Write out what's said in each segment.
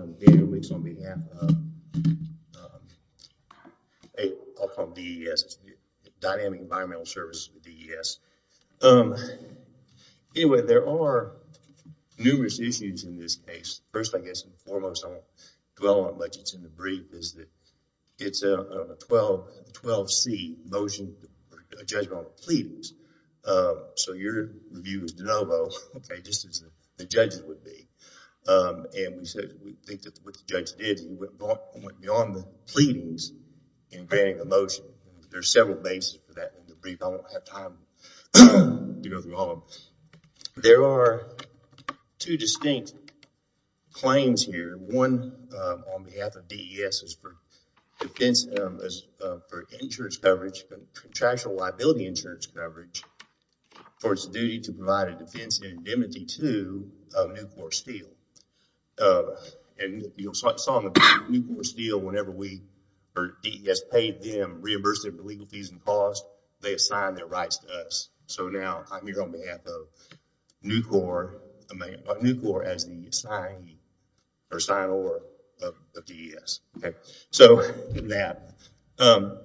on behalf of DES, Dynamic Environmental Services of DES. Anyway, there are numerous issues in this case. First, I guess, foremost dwell on what's in the brief is that it's a 12-C motion for a judgment on the pleadings. So your view is de novo, okay, just as the judges would be, and we said we think that what the judge did he went beyond the pleadings in granting a motion. There are several bases for that in the brief. I won't have time to go through all of them. There are two distinct claims here. One on behalf of DES is for insurance coverage, contractual liability insurance coverage for its duty to provide a defense indemnity to Nucor Steel. And you saw in the Nucor Steel whenever we or DES paid them reimbursement for legal fees and costs, they assigned their rights to us. So now I'm here on behalf of Nucor as the assignee or signer of DES, okay. So on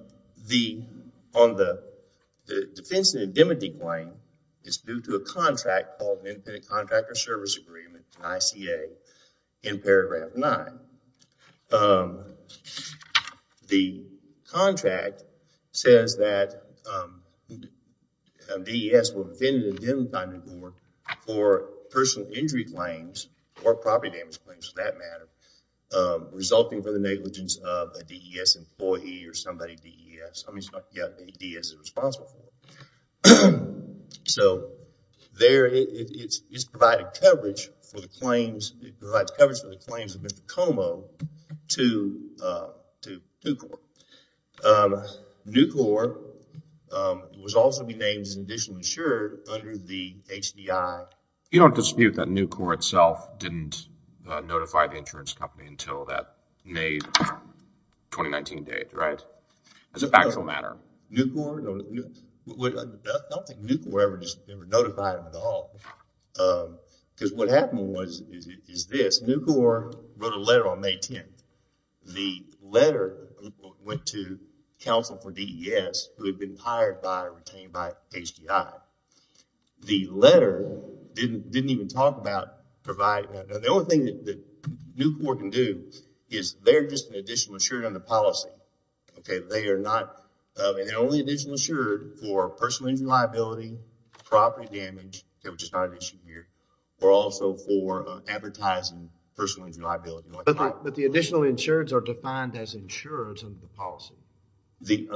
the defense indemnity claim, it's due to a contract called an Independent Contractor Service Agreement, an ICA, in paragraph nine. The contract says that DES will defend an indemnity by Nucor for personal injury claims or property damage claims, for that matter, resulting from the negligence of a DES employee or somebody DES. I mean somebody that DES is responsible for. So there it's providing coverage for the claims. It provides coverage for the claims of Mr. Como to Nucor. Nucor was also to be named as an additional insurer under the HDI. You don't dispute that Nucor itself didn't notify the insurance company until that May 2019 date, right? As a factual matter. Nucor, I don't think Nucor ever just notified at all because what happened was is this. Nucor wrote a letter on May 10th. The letter went to counsel for DES who had been hired by or retained by HDI. The letter didn't even talk about providing that. The only thing that Nucor can do is they're just an additional insurer under policy, okay? They are not the only additional insurer for personal injury liability, property damage, which is not an issue here, or also for advertising personal injury liability. But the additional insurers are defined as insurers under the policy. The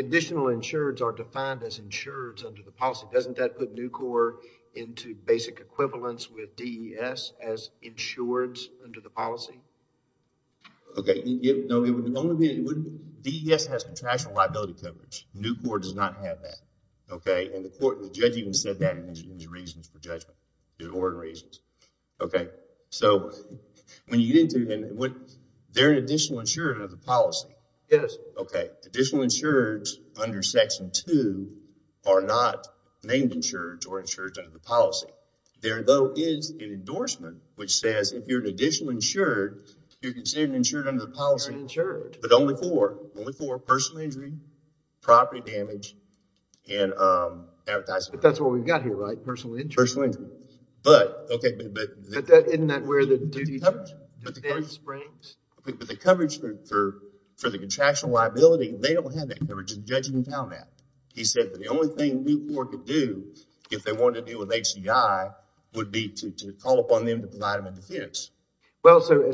additional insurers are defined as insurers under the policy. Doesn't that put Nucor into basic equivalence with DES as insureds under the policy? Okay, no. DES has professional liability coverage. Nucor does not have that, okay? And the court, the judge even said that in his reasons for judgment, court reasons. Okay, so when you get into it, they're an additional insurer of the policy. Yes. Okay, additional insurers under section two are not named insured or insured under the policy. There though is an endorsement which says if you're an additional insured, you're considered an insured under the policy. You're insured. But only for personal injury, property damage, and advertising. But that's what we've got here, right? Personal injury. Personal injury. But, okay. But isn't that where the duty springs? But the coverage for the contractual liability, they don't have that coverage. The judge even found that. He said that the only thing Nucor could do if they wanted to deal with HCI would be to call upon them to provide them a defense. Well, so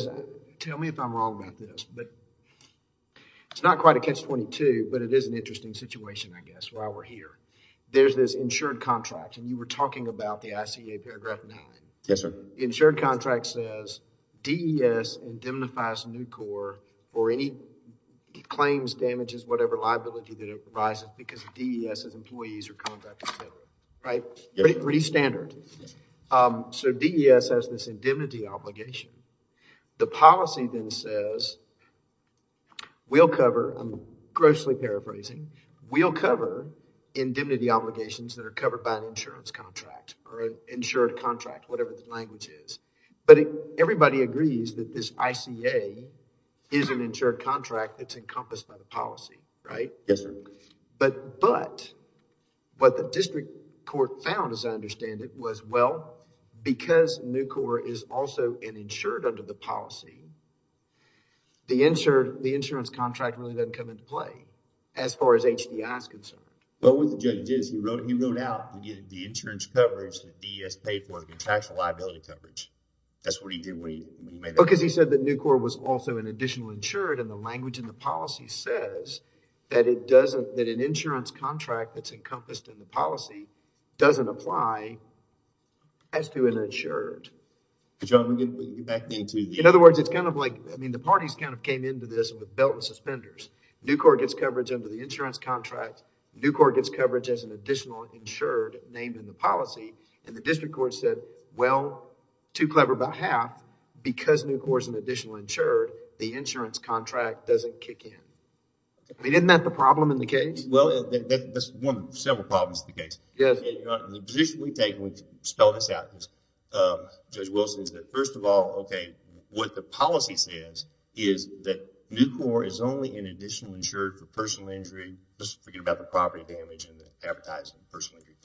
tell me if I'm wrong about this, but it's not quite a catch-22, but it is an interesting situation, I guess, while we're here. There's this insured contract, and you were talking about the ICA paragraph nine. Yes, sir. The insured contract says DES indemnifies Nucor for any claims, damages, whatever liability that arises because DES's employees are contracted, right? Pretty standard. So DES has this indemnity obligation. The policy then says we'll cover, I'm grossly paraphrasing, we'll cover indemnity obligations that are covered by an insurance contract or an insured contract, whatever the language is. But everybody agrees that this ICA is an insured contract that's encompassed by the policy, right? Yes, sir. But what the district court found, as I understand it, was well, because Nucor is also an insured under the policy, the insured, the insurance contract really doesn't come into play as far as HDI is concerned. But what the judge did is he wrote, he wrote out the insurance coverage that DES paid for the contractual liability coverage. That's what he did when he made that. Because he said that Nucor was also an additional insured, and the language in the policy says that it doesn't, that an insured. In other words, it's kind of like, I mean, the parties kind of came into this with belt and suspenders. Nucor gets coverage under the insurance contract. Nucor gets coverage as an additional insured named in the policy. And the district court said, well, too clever about half, because Nucor is an additional insured, the insurance contract doesn't kick in. I mean, isn't that the problem in the case? Well, that's one of several problems in the case. The position we take, we spell this out. Judge Wilson said, first of all, okay, what the policy says is that Nucor is only an additional insured for personal injury, just forget about the property damage and the advertising, personal injury,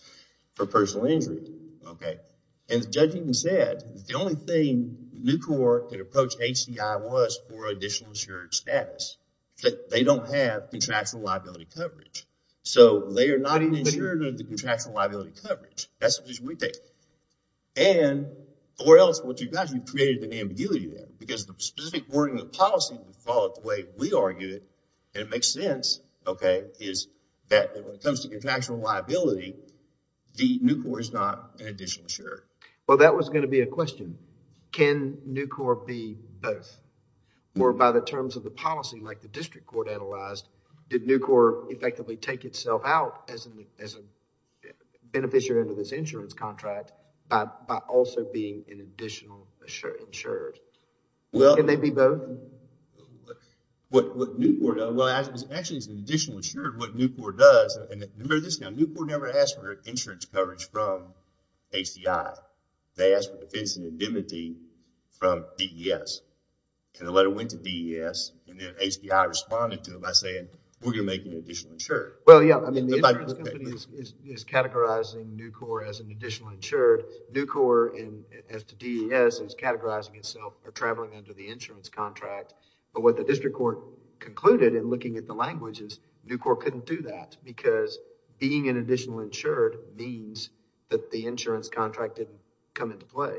for personal injury. Okay. And the judge even said the only thing Nucor could approach HDI was for additional insured status, that they don't have contractual liability coverage. So, they are not an insurer under the contractual liability coverage. That's the position we take. And, or else, what you've got, you've created an ambiguity there, because the specific wording of the policy followed the way we argued it, and it makes sense, okay, is that when it comes to contractual liability, the Nucor is not an additional insured. Well, that was going to be a question. Can Nucor be both? Or by the terms of the policy, like the district court analyzed, did Nucor effectively take itself out as a beneficiary of this insurance contract by also being an additional insured? Can they be both? Well, what Nucor does, well, actually, it's an additional insured. What Nucor does, and remember this now, Nucor never asked for insurance coverage from HDI. They asked for defense indemnity from DES. And the letter went to DES, and then HDI responded to it by saying, we're going to make you an additional insured. Well, yeah, I mean, the insurance company is categorizing Nucor as an additional insured. Nucor, and as to DES, is categorizing itself or traveling under the insurance contract. But what the district court concluded in looking at the language is Nucor couldn't do that, because being an additional insured means that the insurance contract didn't come into play.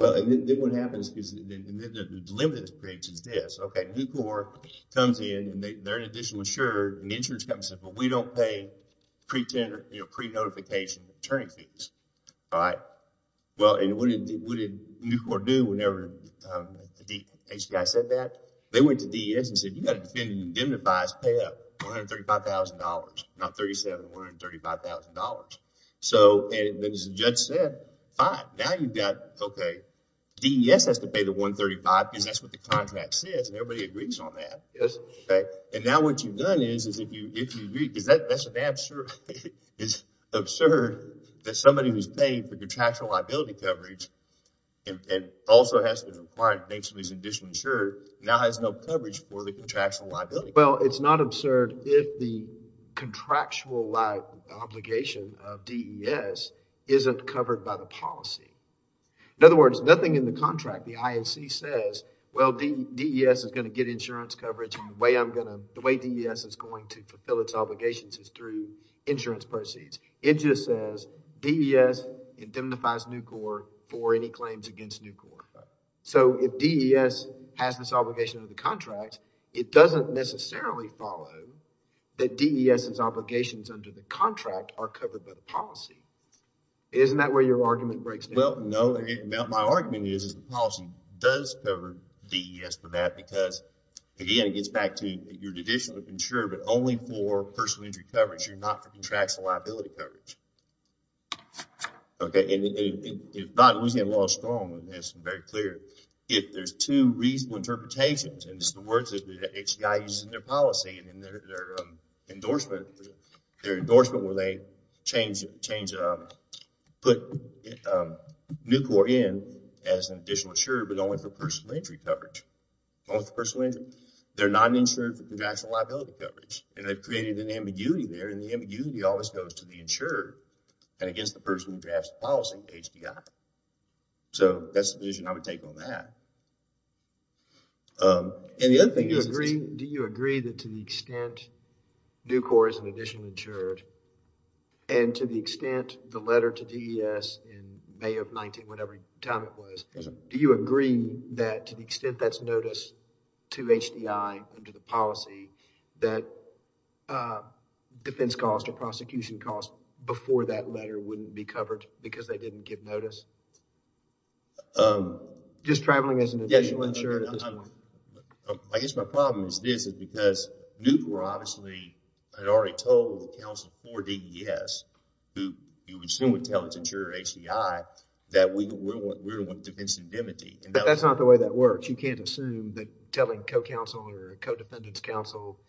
Well, and then what happens is, and then the limited experience is this, okay, Nucor comes in, and they're an additional insured, and the insurance company says, well, we don't pay pre-notification return fees, all right? Well, and what did Nucor do whenever HDI said that? They went to DES and said, you've got to defend indemnity bias, pay up $135,000, not $37,000, $135,000. So, and as the judge said, fine, now you've got, okay, DES has to pay the $135,000, because that's what the contract says, and everybody agrees on that. Yes. Okay, and now what you've done is, is if you, if you agree, because that's an absurd, it's absurd that somebody who's paid for contractual liability coverage and also has been required to make some additional insured, now has no coverage for the contractual liability. Well, it's not absurd if the contractual obligation of DES isn't covered by the policy. In other words, nothing in the contract, the INC says, well, DES is going to get insurance coverage. The way I'm going to, the way DES is going to fulfill its obligations is through insurance proceeds. It just says DES indemnifies Nucor for any claims against Nucor. So, if DES has this obligation of the contract, it doesn't necessarily follow that DES's argument breaks down. Well, no, my argument is, is the policy does cover DES for that, because, again, it gets back to your additional insurer, but only for personal injury coverage. You're not for contractual liability coverage. Okay, and if not, Louisiana law is strong, and it's very clear. If there's two reasonable interpretations, and it's the words that HCI uses in their policy, and in their endorsement, their endorsement where they change, put Nucor in as an additional insurer, but only for personal injury coverage. Only for personal injury? They're not insured for contractual liability coverage, and they've created an ambiguity there, and the ambiguity always goes to the insurer, and against the person who drafts the policy, HDI. So, that's the position I would take on that. And the other thing is, do you agree that to the extent Nucor is an additional insured, and to the extent the letter to DES in May of 19, whatever time it was, do you agree that to the extent that's noticed to HDI under the policy, that defense cost or prosecution cost before that letter wouldn't be covered, because they didn't give notice? Just traveling as an additional insured at this point. I guess my problem is this, is because Nucor, obviously, had already told the counsel for DES, who you would assume would tell its insurer HDI, that we don't want defense indemnity. But that's not the way that works. You can't assume that telling co-counsel or co-defendant's counsel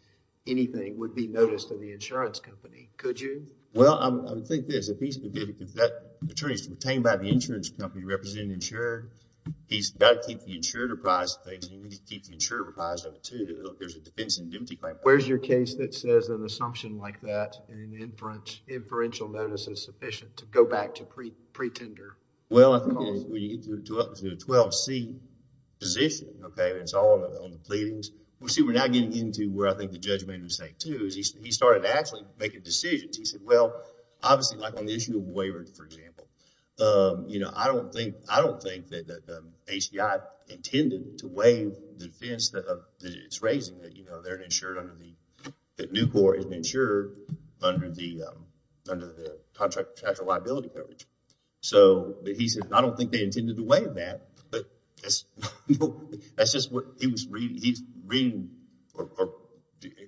anything would be noticed to the insurance company, could you? Well, I think there's a piece of it that attorneys obtained by the insurance company representing the insurer, he's got to keep the insurer apprised of things, and you need to keep the insurer apprised of it too. There's a defense indemnity claim. Where's your case that says an assumption like that and an inferential notice is sufficient to go back to pretender? Well, I think when you get to a 12-C position, okay, it's all on the pleadings. See, we're now getting into where I think the judge made a mistake too, is he started to actually make a decision. He said, well, obviously, like on the issue of waiver, for example, I don't think that HDI intended to waive the defense that it's raising that, you know, they're insured under the, that Nucor is insured under the contract after liability coverage. So he said, I don't think they intended to waive that, but that's just what he was reading. He's reading or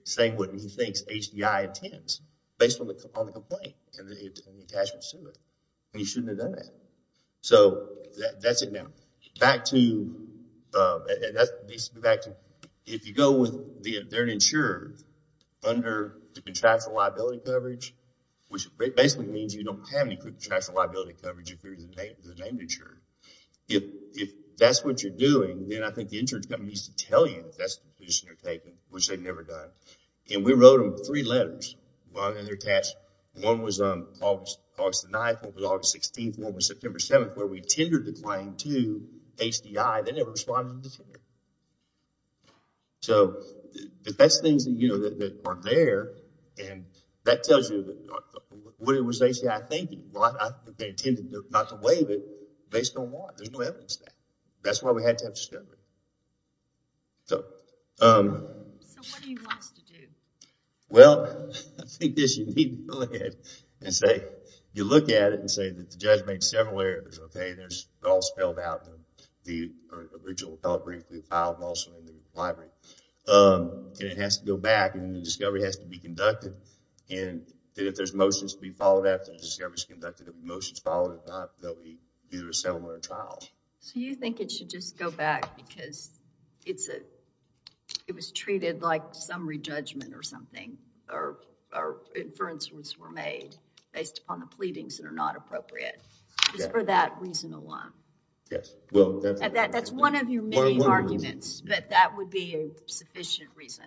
saying what he thinks HDI intends based on the complaint and the attachment to it. He shouldn't have done that. So that's it now. Back to, if you go with the, they're insured under the contractual liability coverage, which basically means you don't have any contractual liability coverage. If that's what you're doing, then I think the insurance company needs to tell you that's the position you're taking, which they've never done. And we wrote them three letters while they're attached. One was August 9th, one was August 16th, one was September 7th, where we tendered the claim to HDI. They never responded. So that's things that, you know, that are there. And that tells you what it was HDI thinking. They intended not to waive it based on what? There's no evidence there. That's why we had to have discovery. So what do you want us to do? Well, I think this, you need to go ahead and say, you look at it and say that the judge made several errors, okay? They're all spelled out in the original appellate brief, we filed also in the library. And it has to go back and the discovery has to be conducted. And if there's motions to be followed after the discovery's conducted, if the motion's followed, it's not, then we do a similar trial. So you think it should just go back because it's a, it was treated like summary judgment or something, or inferences were made based upon the pleadings that are not appropriate. Just for that reason alone. Yes. Well, that's one of your many arguments, but that would be a sufficient reason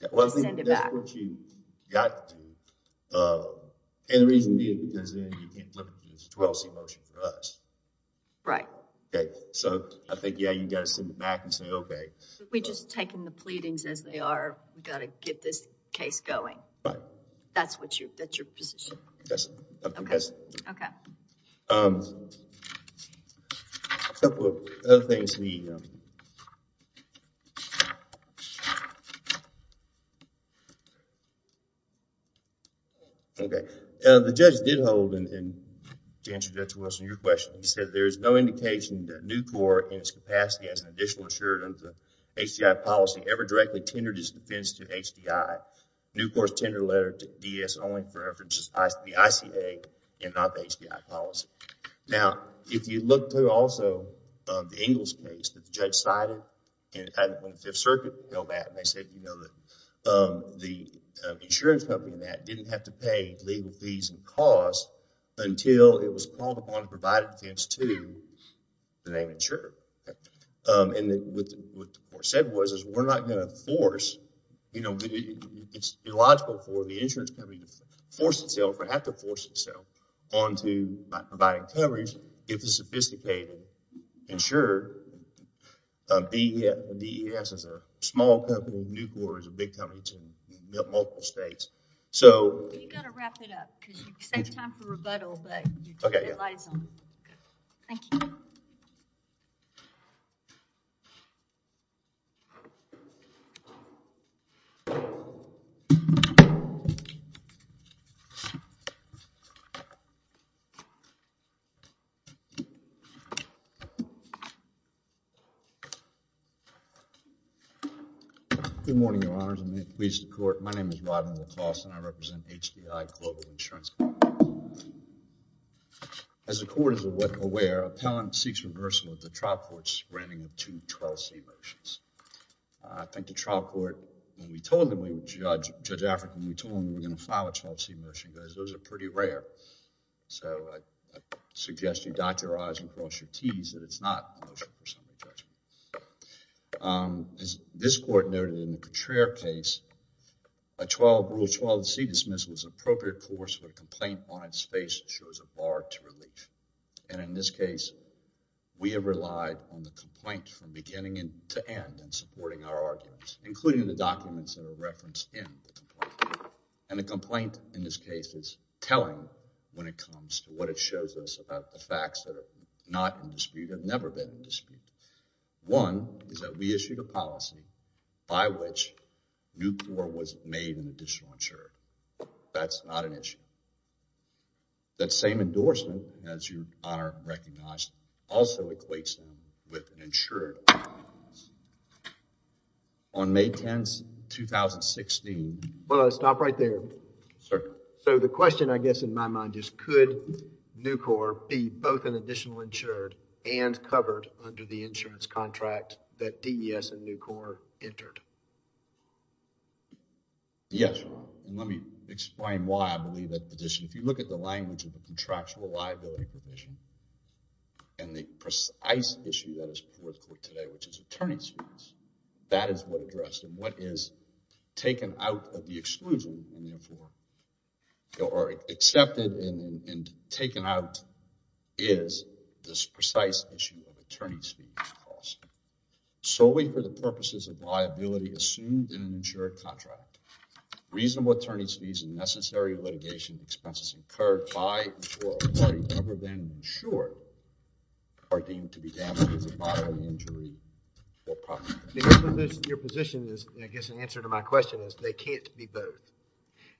to send it back. That's what you got to do. And the reason is because then you can't look at the 12C motion for us. Right. Okay. So I think, yeah, you got to send it back and say, okay. We're just taking the pleadings as they are. We got to get this case going. Right. That's what you, that's your position. Yes, I think that's it. Okay. Um, a couple of other things we, um... Okay. The judge did hold, and to answer Judge Wilson's question, he said there's no indication that a new court in its capacity as an additional insurer under the HDI policy ever directly tendered his defense to HDI. New court's tender letter to DES only for references to the ICA and not the HDI policy. Now, if you look through also the Ingalls case that the judge cited, and when the Fifth Circuit held that, and they said, you know, the insurance company in that didn't have to pay legal fees and costs until it was called upon to provide a defense to the name insurer. And what the court said was, is we're not going to force, you know, it's illogical for the insurance company to force itself, or have to force itself onto, by providing coverage, get the sophisticated insurer. DES is a small company. New court is a big company. It's in multiple states. So... You got to wrap it up because you saved time for rebuttal, but... Okay. Thank you. So... Good morning, Your Honors, and may it please the court. My name is Rodney LaCoste, and I represent HDI Global Insurance. As the court is aware, appellant seeks reversal of the trial court's granting of two 12C motions. I think the trial court, when we told them, Judge African, we told them we were going to file a 12C motion, because those are pretty rare. So I suggest you dot your I's and cross your T's that it's not a motion for some objection. This court noted in the Petraeus case, a Rule 12C dismissal is an appropriate course when a complaint finds space that shows a bar to relief. And in this case, we have relied on the complaint from beginning to end in supporting our arguments, including the documents that are referenced in the complaint. And the complaint in this case is telling when it comes to what it shows us about the facts that are not in dispute, have never been in dispute. One is that we issued a policy by which Newport was made an additional insurer. That's not an issue. That same endorsement, as you are recognized, also equates with an insured. On May 10th, 2016. Well, let's stop right there. Sir. So the question, I guess, in my mind is, could Nucor be both an additional insured and covered under the insurance contract that DES and Nucor entered? Yes. And let me explain why I believe that addition. If you look at the language of the contractual liability provision and the precise issue that is put forth today, which is attorney's fees, that is what addressed and what is taken out of the exclusion. And therefore, they're already accepted and taken out is this precise issue of attorney's fees cost. Solely for the purposes of liability assumed in an insured contract. Reasonable attorney's fees and necessary litigation expenses incurred by a party other than insured are deemed to be damages of bodily injury or property damage. Your position is, I guess, an answer to my question is they can't be both.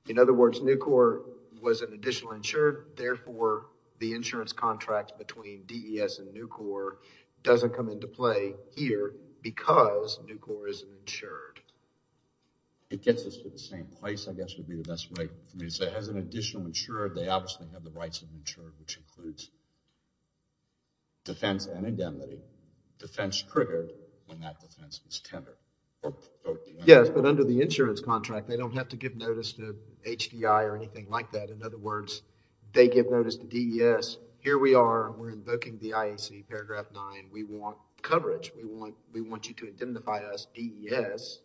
In other words, Nucor was an additional insured. Therefore, the insurance contract between DES and Nucor doesn't come into play here because Nucor is insured. It gets us to the same place, I guess, would be the best way for me to say. As an additional insured, they obviously have the rights of insured, which includes defense and indemnity. Defense triggered when that defense is tendered. Yes, but under the insurance contract, they don't have to give notice to HDI or anything like that. In other words, they give notice to DES. Here we are, we're invoking the IAC, paragraph nine, we want coverage. We want you to indemnify us, DES.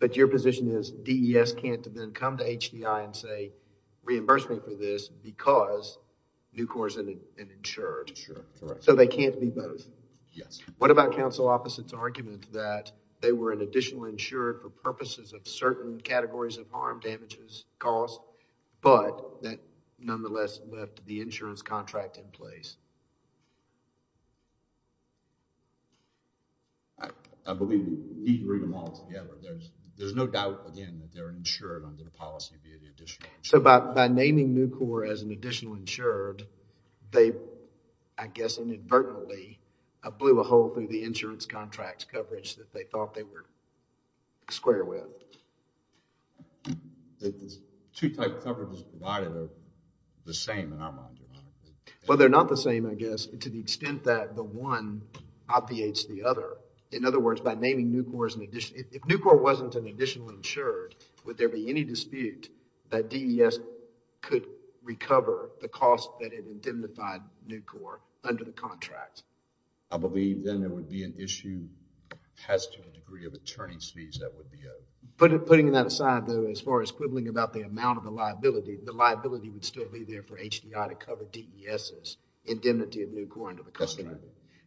But your position is DES can't then come to HDI and say reimburse me for this because Nucor is an insured. For sure, correct. So they can't be both. Yes. What about counsel opposite's argument that they were an additional insured for purposes of certain categories of harm, damages, costs, but that nonetheless left the insurance contract in place? I believe we need to bring them all together. There's no doubt, again, that they're insured under the policy via the additional insurance. So by naming Nucor as an additional insured, they, I guess, inadvertently blew a hole through the insurance contract's coverage that they thought they were square with. The two types of coverage provided Well, they're not the same. They're not the same. They're not the same. To the extent that the one obviates the other. In other words, by naming Nucor as an additional, if Nucor wasn't an additional insured, would there be any dispute that DES could recover the cost that it indemnified Nucor under the contract? I believe then there would be an issue as to the degree of attorney's fees that would be owed. Putting that aside, though, as far as quibbling about the amount of the liability, the liability would still be there for HDI to cover DES's indemnity of Nucor under the contract.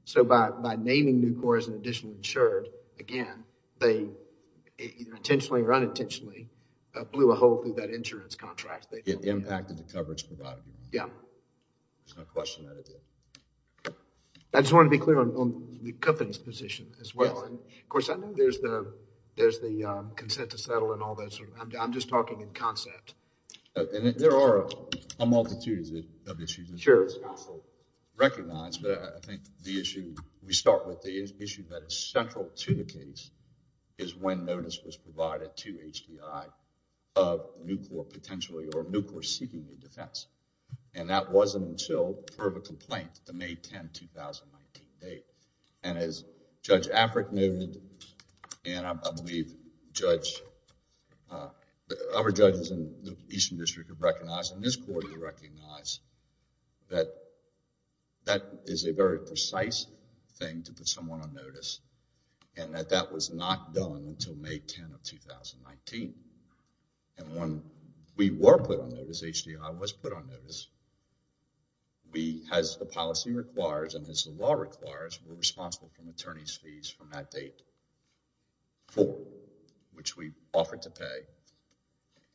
So by naming Nucor as an additional insured, again, they intentionally or unintentionally blew a hole through that insurance contract. It impacted the coverage provided. Yeah. There's no question that it did. I just want to be clear on the company's position as well. And of course, I know there's the consent to settle and all that sort of, I'm just talking in concept. There are a multitude of issues. Sure. Recognized, but I think the issue, we start with the issue that is central to the case is when notice was provided to HDI of Nucor potentially or Nucor seeking the defense. And that wasn't until, per the complaint, the May 10, 2019 date. And as Judge Afric noted, and I believe Judge... other judges in the Eastern District have recognized and this court has recognized that that is a very precise thing to put someone on notice and that that was not done until May 10 of 2019. And when we were put on notice, HDI was put on notice. We, as the policy requires and as the law requires, were responsible for an attorney's fees from that date for which we offered to pay.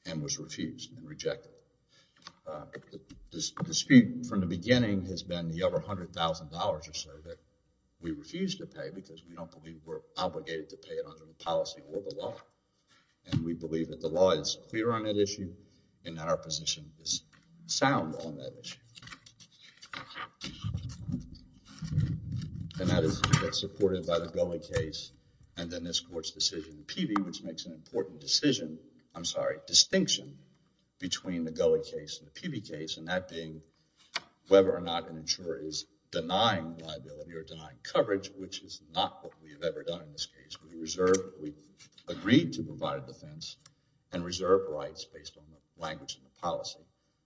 And was refused and rejected. The speed from the beginning has been the over $100,000 or so that we refuse to pay because we don't believe we're obligated to pay it under the policy or the law. And we believe that the law is clear on that issue and that our position is sound on that issue. And that is supported by the Gulley case and then this court's decision in Peavey, which makes an important decision. I'm sorry, distinction between the Gulley case and the Peavey case and that being whether or not an insurer is denying liability or denying coverage, which is not what we've ever done in this case. We agreed to provide a defense and reserve rights based on the language in the policy.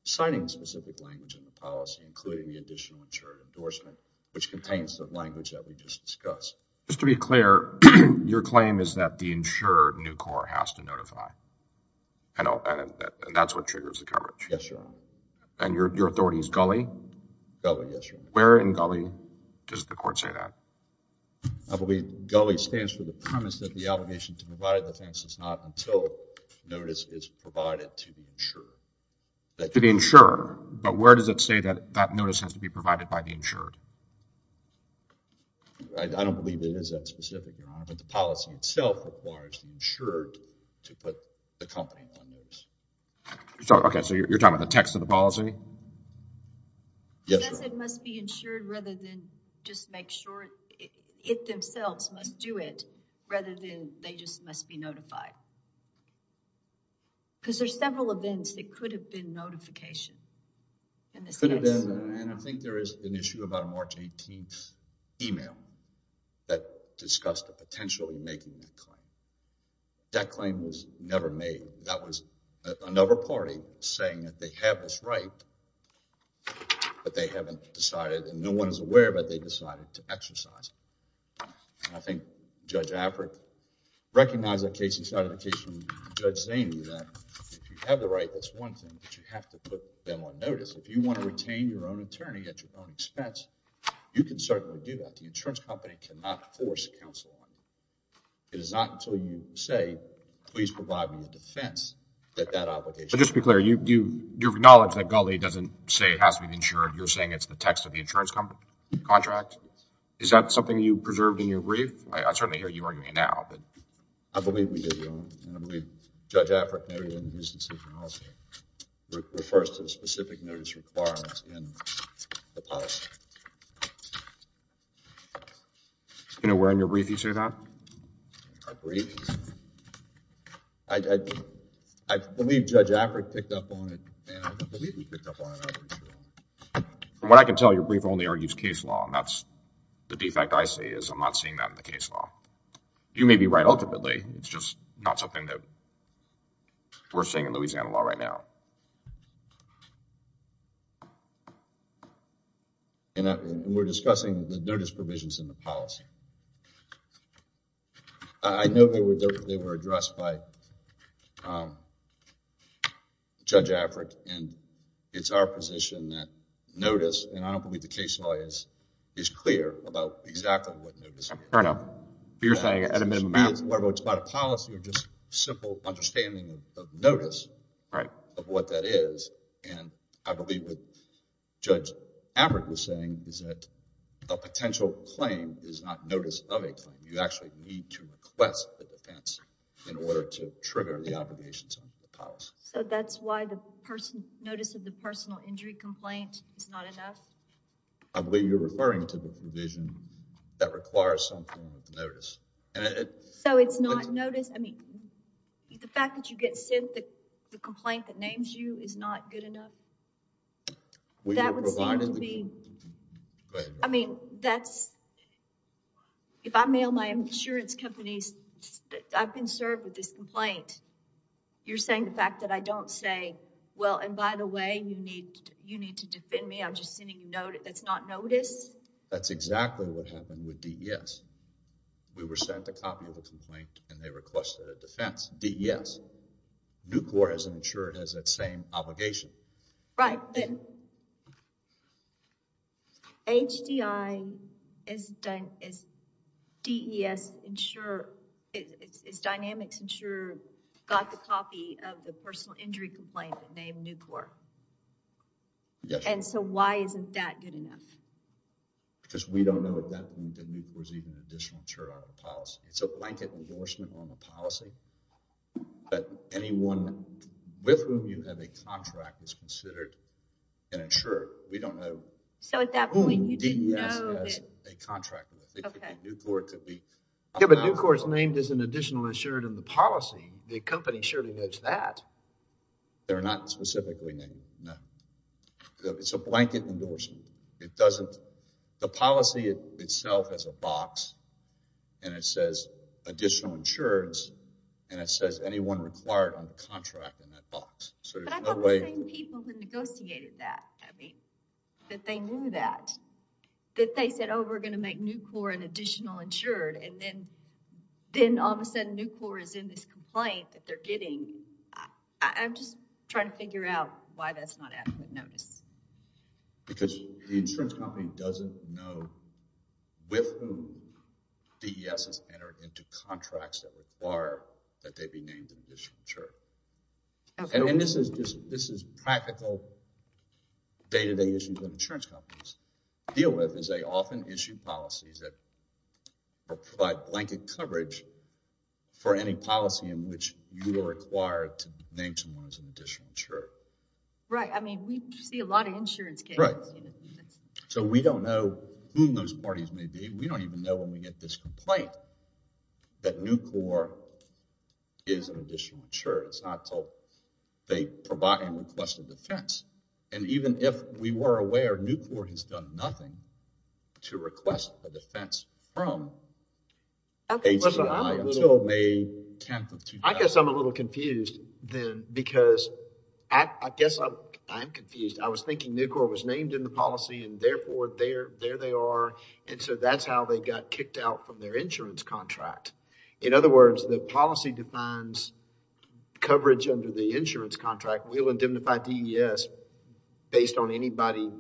Signing specific language in the policy, including the additional insured endorsement, which contains the language that we just discussed. Just to be clear, your claim is that the insured new court has to notify. And that's what triggers the coverage. Yes, Your Honor. And your authority is Gulley? Gulley, yes, Your Honor. Where in Gulley does the court say that? I believe Gulley stands for the premise that the obligation to provide a defense is not until notice is provided to the insurer. To the insurer, but where does it say that that notice has to be provided by the insured? I don't believe it is that specific, Your Honor, but the policy itself requires the insured to put the company on notice. So, okay, so you're talking about the text of the policy? Yes, Your Honor. It says it must be insured rather than just make sure it themselves must do it rather than they just must be notified. Because there's several events that could have been notification in this case. Could have been, and I think there is an issue about a notification. March 18th email that discussed the potential in making that claim. That claim was never made. That was another party saying that they have this right, but they haven't decided and no one is aware, but they decided to exercise it. And I think Judge Affrick recognized that case and started the case from Judge Zaney that if you have the right, that's one thing, but you have to put them on notice. If you want to retain your own attorney at your own expense, you can certainly do that. The insurance company cannot force counsel on you. It is not until you say please provide me a defense that that obligation. But just to be clear, you acknowledge that Gulley doesn't say it has to be insured. You're saying it's the text of the insurance contract. Is that something you preserved in your brief? I certainly hear you arguing now, but. I believe we did, Your Honor, and I believe Judge Affrick noted in his policy refers to the specific notice requirements in the policy. Do you know where in your brief you say that? Our brief? I, I, I believe Judge Affrick picked up on it, and I believe he picked up on it, I'm pretty sure. From what I can tell, your brief only argues case law, and that's the defect I see is I'm not seeing that in the case law. You may be right ultimately, it's just not something that we're seeing in Louisiana law right now. And we're discussing the notice provisions in the policy. I know they were, they were addressed by Judge Affrick, and it's our position that notice, and I don't believe the case law is, is clear about exactly what notice is. I know, but you're saying at a minimum. It's more about a policy or just simple understanding of notice. Right. Of what that is, and I believe what Judge Affrick was saying is that a potential claim is not notice of a claim. You actually need to request the defense in order to trigger the obligations of the policy. So that's why the person, notice of the personal injury complaint is not enough? I believe you're referring to the provision that requires some form of notice. So it's not notice, I mean, the fact that you get sent the complaint that names you is not good enough? That would seem to be, I mean, that's, if I mail my insurance companies that I've been served with this complaint, you're saying the fact that I don't say, well, and by the way, you need, you need to defend me, I'm just sending you notice, that's not notice? That's exactly what happened with DBS. We were sent a copy of the complaint and they requested a defense, DES. Nucor, as an insurer, has that same obligation. Right. HDI is, DES insurer, is Dynamics insurer got the copy of the personal injury complaint named Nucor? And so why isn't that good enough? Because we don't know at that point that Nucor is even an additional insurer out of the policy. It's a blanket endorsement on the policy, but anyone with whom you have a contract is considered an insurer. We don't know. So at that point, you didn't know that. Who DES has a contract with. It could be Nucor, it could be. Yeah, but Nucor is named as an additional insurer in the policy. The company surely knows that. They're not specifically named, no. It's a blanket endorsement. It doesn't, the policy itself has a box and it says additional insurers and it says anyone required on the contract in that box. But I thought we were saying people who negotiated that, that they knew that, that they said, oh, we're going to make Nucor an additional insured. And then, then all of a sudden Nucor is in this complaint that they're getting. I'm just trying to figure out why that's not adequate notice. Because the insurance company doesn't know with whom DES has entered into contracts that require that they be named an additional insurer. And this is just, this is practical day-to-day issues that insurance companies deal with is they often issue policies that provide blanket coverage for any policy in which you are required to name someone as an additional insurer. Right. I mean, we see a lot of insurance cases. Right. So, we don't know whom those parties may be. We don't even know when we get this complaint that Nucor is an additional insurer. It's not until they provide and request a defense. And even if we were aware, Nucor has done nothing to request a defense from HCI until May 10th of... I guess I'm a little confused then because I guess I'm, I'm confused. I was thinking Nucor was named in the policy and therefore there, there they are. And so that's how they got kicked out from their insurance contract. In other words, the policy defines coverage under the insurance contract. We'll indemnify DES based on anybody,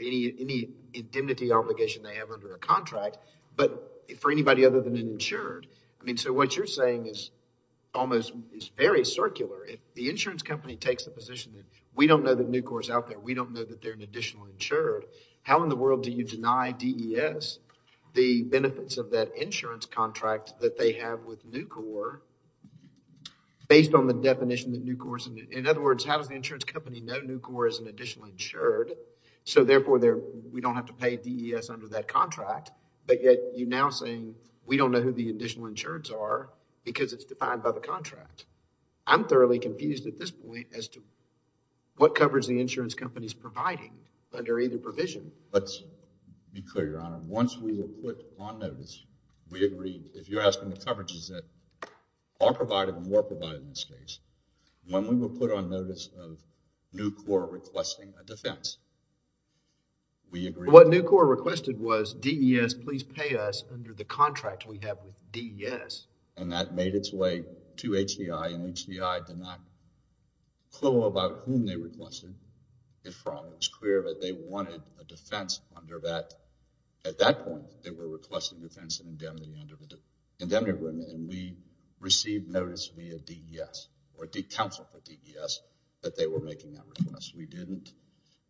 any indemnity obligation they have under a contract. But for anybody other than an insured, I mean, so what you're saying is almost, it's very circular. If the insurance company takes the position that we don't know that Nucor is out there, we don't know that they're an additional insured, how in the world do you deny DES the benefits of that insurance contract that they have with Nucor based on the definition that Nucor is? In other words, how does the insurance company know Nucor is an additional insured? So therefore there, we don't have to pay DES under that contract. But yet you're now saying we don't know who the additional insureds are because it's defined by the contract. I'm thoroughly confused at this point as to what coverage the insurance company is providing under either provision. Let's be clear, Your Honor. Once we were put on notice, we agreed. If you're asking the coverages that are provided and were provided in this case, when we were put on notice of Nucor requesting a defense, we agreed. What Nucor requested was DES please pay us under the contract we have with DES. And that made its way to HCI and HCI did not know about whom they requested it from. It was clear that they wanted a defense under that. At that point, they were requesting defense and indemnity under the indemnity agreement and we received notice via DES or did counsel for DES that they were making that request. We didn't,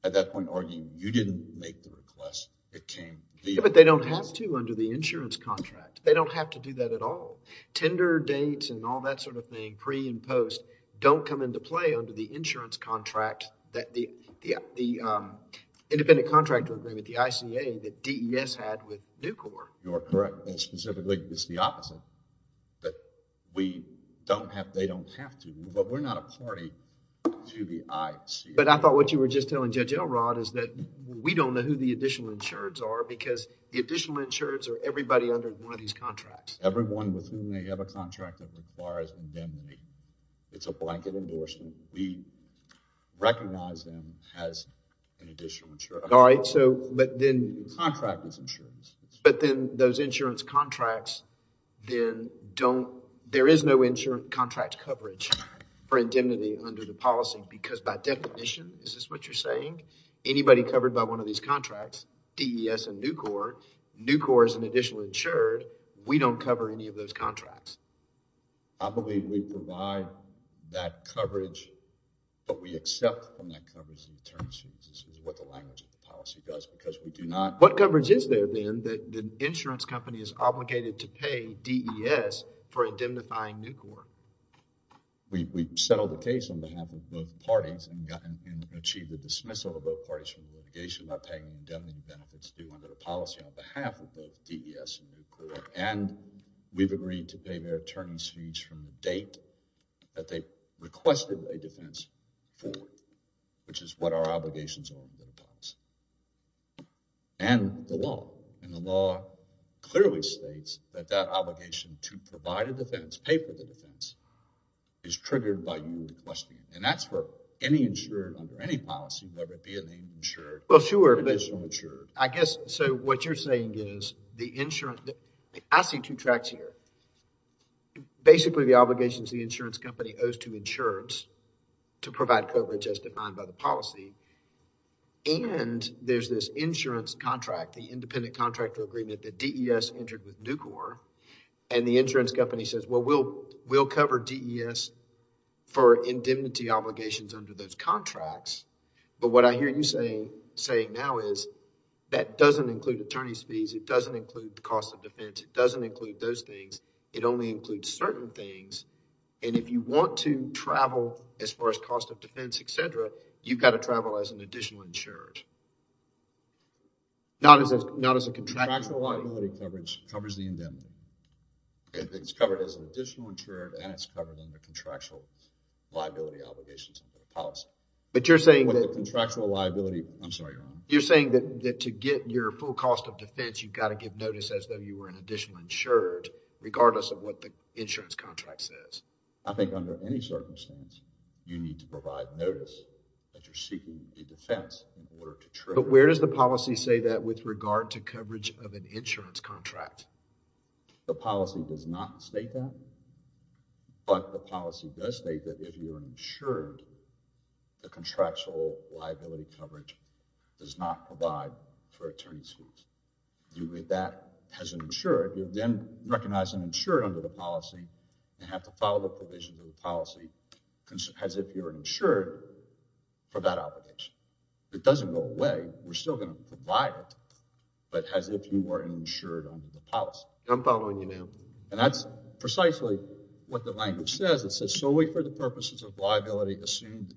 at that point, arguing you didn't make the request, it came via. But they don't have to under the insurance contract. They don't have to do that at all. Tender dates and all that sort of thing, pre and post, don't come into play under the insurance contract that the, yeah, the independent contractor agreement, the ICA that DES had with Nucor. You are correct and specifically it's the opposite that we don't have, they don't have to, but we're not a party to the ICA. But I thought what you were just telling Judge Elrod is that we don't know who the additional insureds are because the additional insureds are everybody under one of these contracts. Everyone with whom they have a contract that requires indemnity. It's a blanket endorsement. We recognize them as an additional insurer. All right, so, but then. Contract is insurance. But then those insurance contracts then don't, there is no insurance contract coverage for indemnity under the policy because by definition, is this what you're saying? Anybody covered by one of these contracts, DES and Nucor, Nucor is an additional insured. We don't cover any of those contracts. I believe we provide that coverage, but we accept from that coverage in terms of what the language of the policy does because we do not. What coverage is there then that the insurance company is obligated to pay DES for indemnifying Nucor? We've settled the case on behalf of both parties and achieved the dismissal of both parties from litigation by paying indemnity benefits due to the policy on behalf of both DES and Nucor. And we've agreed to pay their attorneys fees from the date that they requested a defense for, which is what our obligations are in the policy. And the law, and the law clearly states that that obligation to provide a defense, pay for the defense, is triggered by you requesting it. And that's where any insurer under any policy, whether it be an insured or additional insured. I guess, so what you're saying is the insurance, I see two tracks here. Basically, the obligations the insurance company owes to insurance to provide coverage as defined by the policy. And there's this insurance contract, the independent contractor agreement that DES entered with Nucor. And the insurance company says, well, we'll, we'll cover DES for indemnity obligations under those contracts. But what I hear you saying, saying now is that doesn't include attorney's fees. It doesn't include the cost of defense. It doesn't include those things. It only includes certain things. And if you want to travel as far as cost of defense, et cetera, you've got to travel as an additional insured. Not as, not as a contractual liability coverage, covers the indemnity. It's covered as an additional insured and it's covered in the contractual liability obligations of the policy. But you're saying that. Contractual liability. I'm sorry, Your Honor. You're saying that, that to get your full cost of defense, you've got to give notice as though you were an additional insured regardless of what the insurance contract says. I think under any circumstance, you need to provide notice that you're seeking a defense in order to travel. But where does the policy say that with regard to coverage of an insurance contract? The policy does not state that. But the policy does state that if you're insured, the contractual liability coverage does not provide for attorney's fees. You read that as an insured, you then recognize an insured under the policy. You have to follow the provision of the policy as if you're insured for that obligation. It doesn't go away. We're still going to provide it. I'm following you, ma'am. And that's precisely what the language says. It says solely for the purposes of liability assumed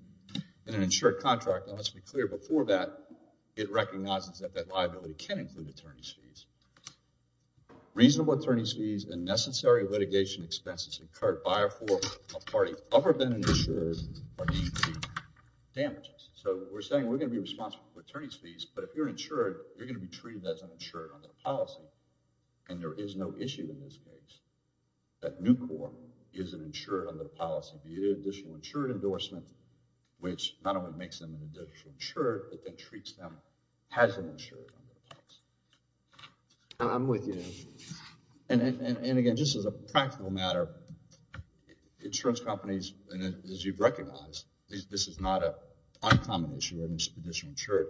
in an insured contract. And let's be clear, before that, it recognizes that that liability can include attorney's fees. Reasonable attorney's fees and necessary litigation expenses incurred by or for a party other than an insured are deemed to be damages. So we're saying we're going to be responsible for attorney's fees. But if you're insured, you're going to be treated as an insured under the policy. And there is no issue in this case that Nucor is an insured under the policy. The additional insured endorsement, which not only makes them an additional insured, but then treats them as an insured. And I'm with you. And again, just as a practical matter, insurance companies, as you've recognized, this is not an uncommon issue, an additional insured.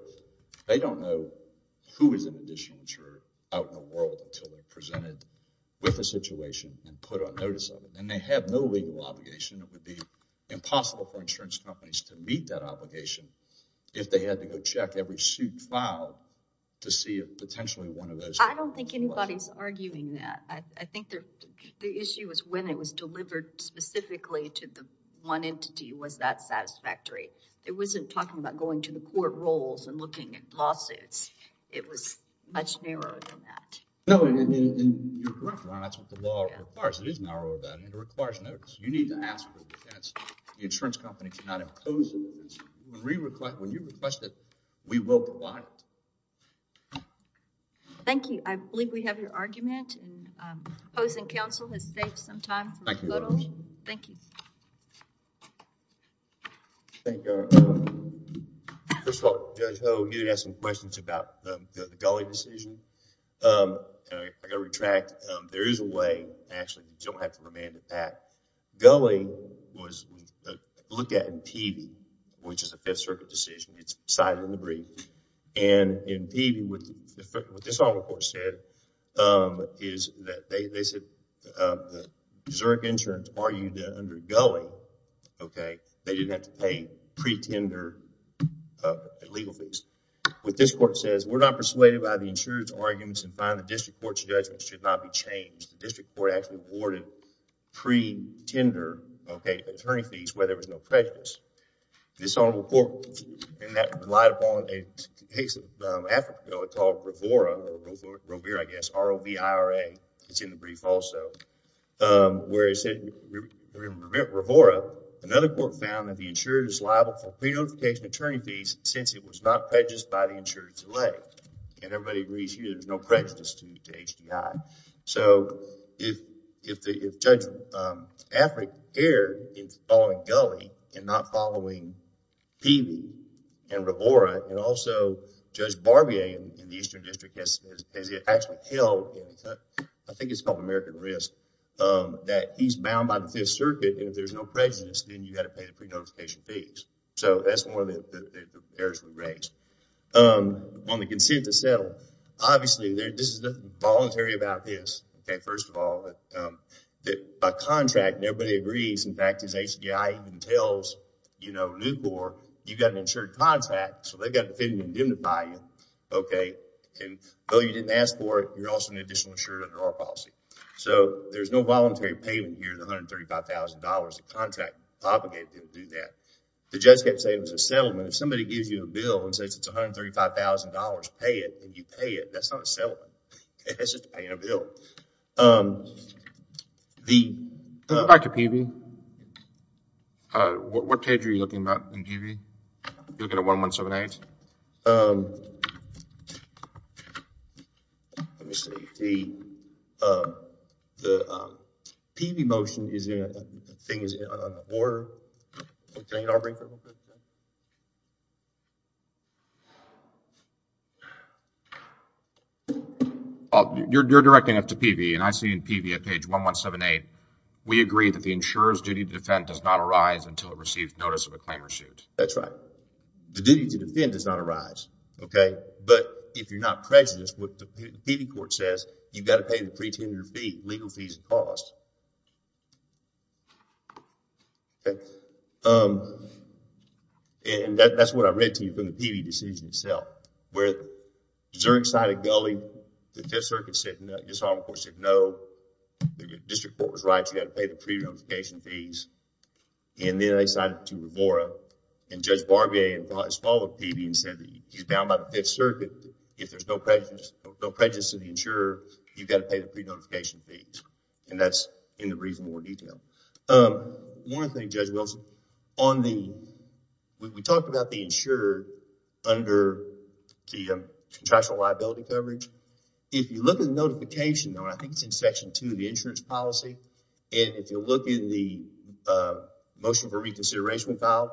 They don't know who is an additional insured out in the world until they're presented with a situation and put on notice of it. And they have no legal obligation. It would be impossible for insurance companies to meet that obligation if they had to go check every suit filed to see if potentially one of those. I don't think anybody's arguing that. I think the issue was when it was delivered specifically to the one entity was that satisfactory. It wasn't talking about going to the court rolls and looking at lawsuits. It was much narrower than that. No, and you're correct. That's what the law requires. It is narrow about it. It requires notice. You need to ask for it. The insurance company cannot impose it. When you request it, we will provide it. Thank you. I believe we have your argument. And opposing counsel has saved some time. Thank you. Thank you. First of all, Judge Ho, you had some questions about the Gulley decision. I got to retract. There is a way. Actually, you don't have to remand it back. Gulley was looked at in Peavey, which is a Fifth Circuit decision. It's decided in the brief. And in Peavey, what this court said is that they said Zurich insurance argued that under Gulley, OK, they didn't have to pay pre-tender legal fees. What this court says, we're not persuaded by the insurance arguments and find the district court's judgment should not be changed. The district court actually awarded pre-tender, OK, attorney fees where there was no prejudice. This honorable court, in that relied upon a case in Africa called REVORA, or REVORA, I guess, R-O-V-I-R-A. It's in the brief also, where it said REVORA. Another court found that the insurer is liable for pre-notification attorney fees since it was not prejudiced by the insurer's delay. And everybody agrees here there's no prejudice to HDI. So, if Judge Affric aired in following Gulley and not following Peavey and REVORA, and also Judge Barbier in the Eastern District, as it actually held, I think it's called American Risk, that he's bound by the Fifth Circuit. And if there's no prejudice, then you got to pay the pre-notification fees. So, that's one of the errors we raised. On the consent to settle, obviously, there's nothing voluntary about this. OK, first of all, by contract, nobody agrees. In fact, as HDI even tells, you know, Newport, you've got an insured contract, so they've got to fit in and indemnify you, OK? And though you didn't ask for it, you're also an additional insurer under our policy. So, there's no voluntary payment here, the $135,000. The contract obligated them to do that. The judge kept saying it was a settlement. If somebody gives you a bill and says it's $135,000, pay it. And you pay it. That's not a settlement. It's just paying a bill. The... Back to Peavey. What page are you looking at in Peavey? You're looking at 1178? Let me see. The Peavey motion is in, I think it's in order. Can I get our briefer real quick? You're directing it to Peavey. And I see in Peavey at page 1178, we agree that the insurer's duty to defend does not arise until it receives notice of a claim or suit. That's right. The duty to defend does not arise, OK? But if you're not prejudiced, what the Peavey court says, you've got to pay the pretended fee, legal fees and costs. And that's what I read to you from the Peavey decision itself, where Zurich cited Gulley, the Fifth Circuit said, and this is what the court said, no, the district court was right, you've got to pay the pre-notification fees. And then they cited to Revora, and Judge Barbier has followed Peavey and said that he's bound by the Fifth Circuit. If there's no prejudice to the insurer, And that's what the Peavey decision says. In the brief, more detail. One thing, Judge Wilson, on the, we talked about the insured under the contractual liability coverage. If you look at the notification, I think it's in section two of the insurance policy. And if you look in the motion for reconsideration file,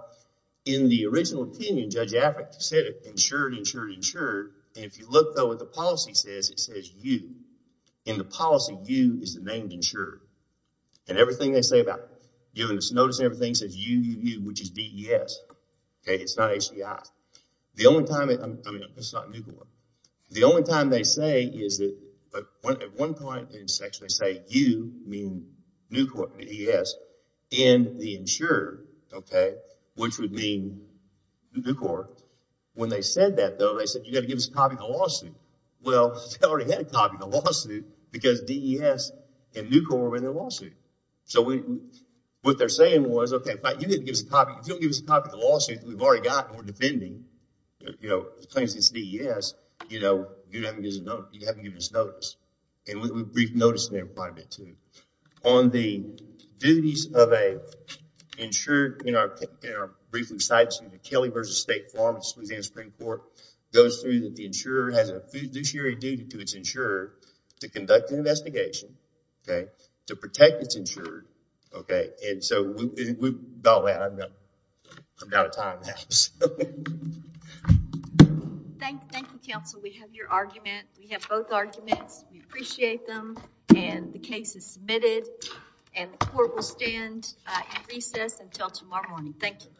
in the original opinion, Judge Abbott said insured, insured, insured. And if you look at what the policy says, it says you. In the policy, you is the named insured. And everything they say about giving us notice, everything says you, you, you, which is DES. Okay, it's not HDI. The only time, I mean, it's not Nucor. The only time they say is that, but at one point in section, they say you mean Nucor, DES, and the insurer, okay, which would mean Nucor. When they said that though, they said you got to give us a copy of the lawsuit. Well, they already had a copy of the lawsuit because DES and Nucor were in the lawsuit. So what they're saying was, okay, but you need to give us a copy. If you don't give us a copy of the lawsuit, we've already got, we're defending, you know, the claims against DES, you know, you haven't given us notice. And we briefed notice in there quite a bit too. On the duties of a insured, you know, in our briefing sites, the Kelly versus State Farm, the Louisiana Supreme Court, goes through that the insurer has a fiduciary duty to its insurer to conduct an investigation, okay, to protect its insured, okay. And so we've, I'm out of time now. Thank you, counsel. We have your argument. We have both arguments. We appreciate them. And the case is submitted and the court will stand in recess until tomorrow morning. Thank you. Thank you.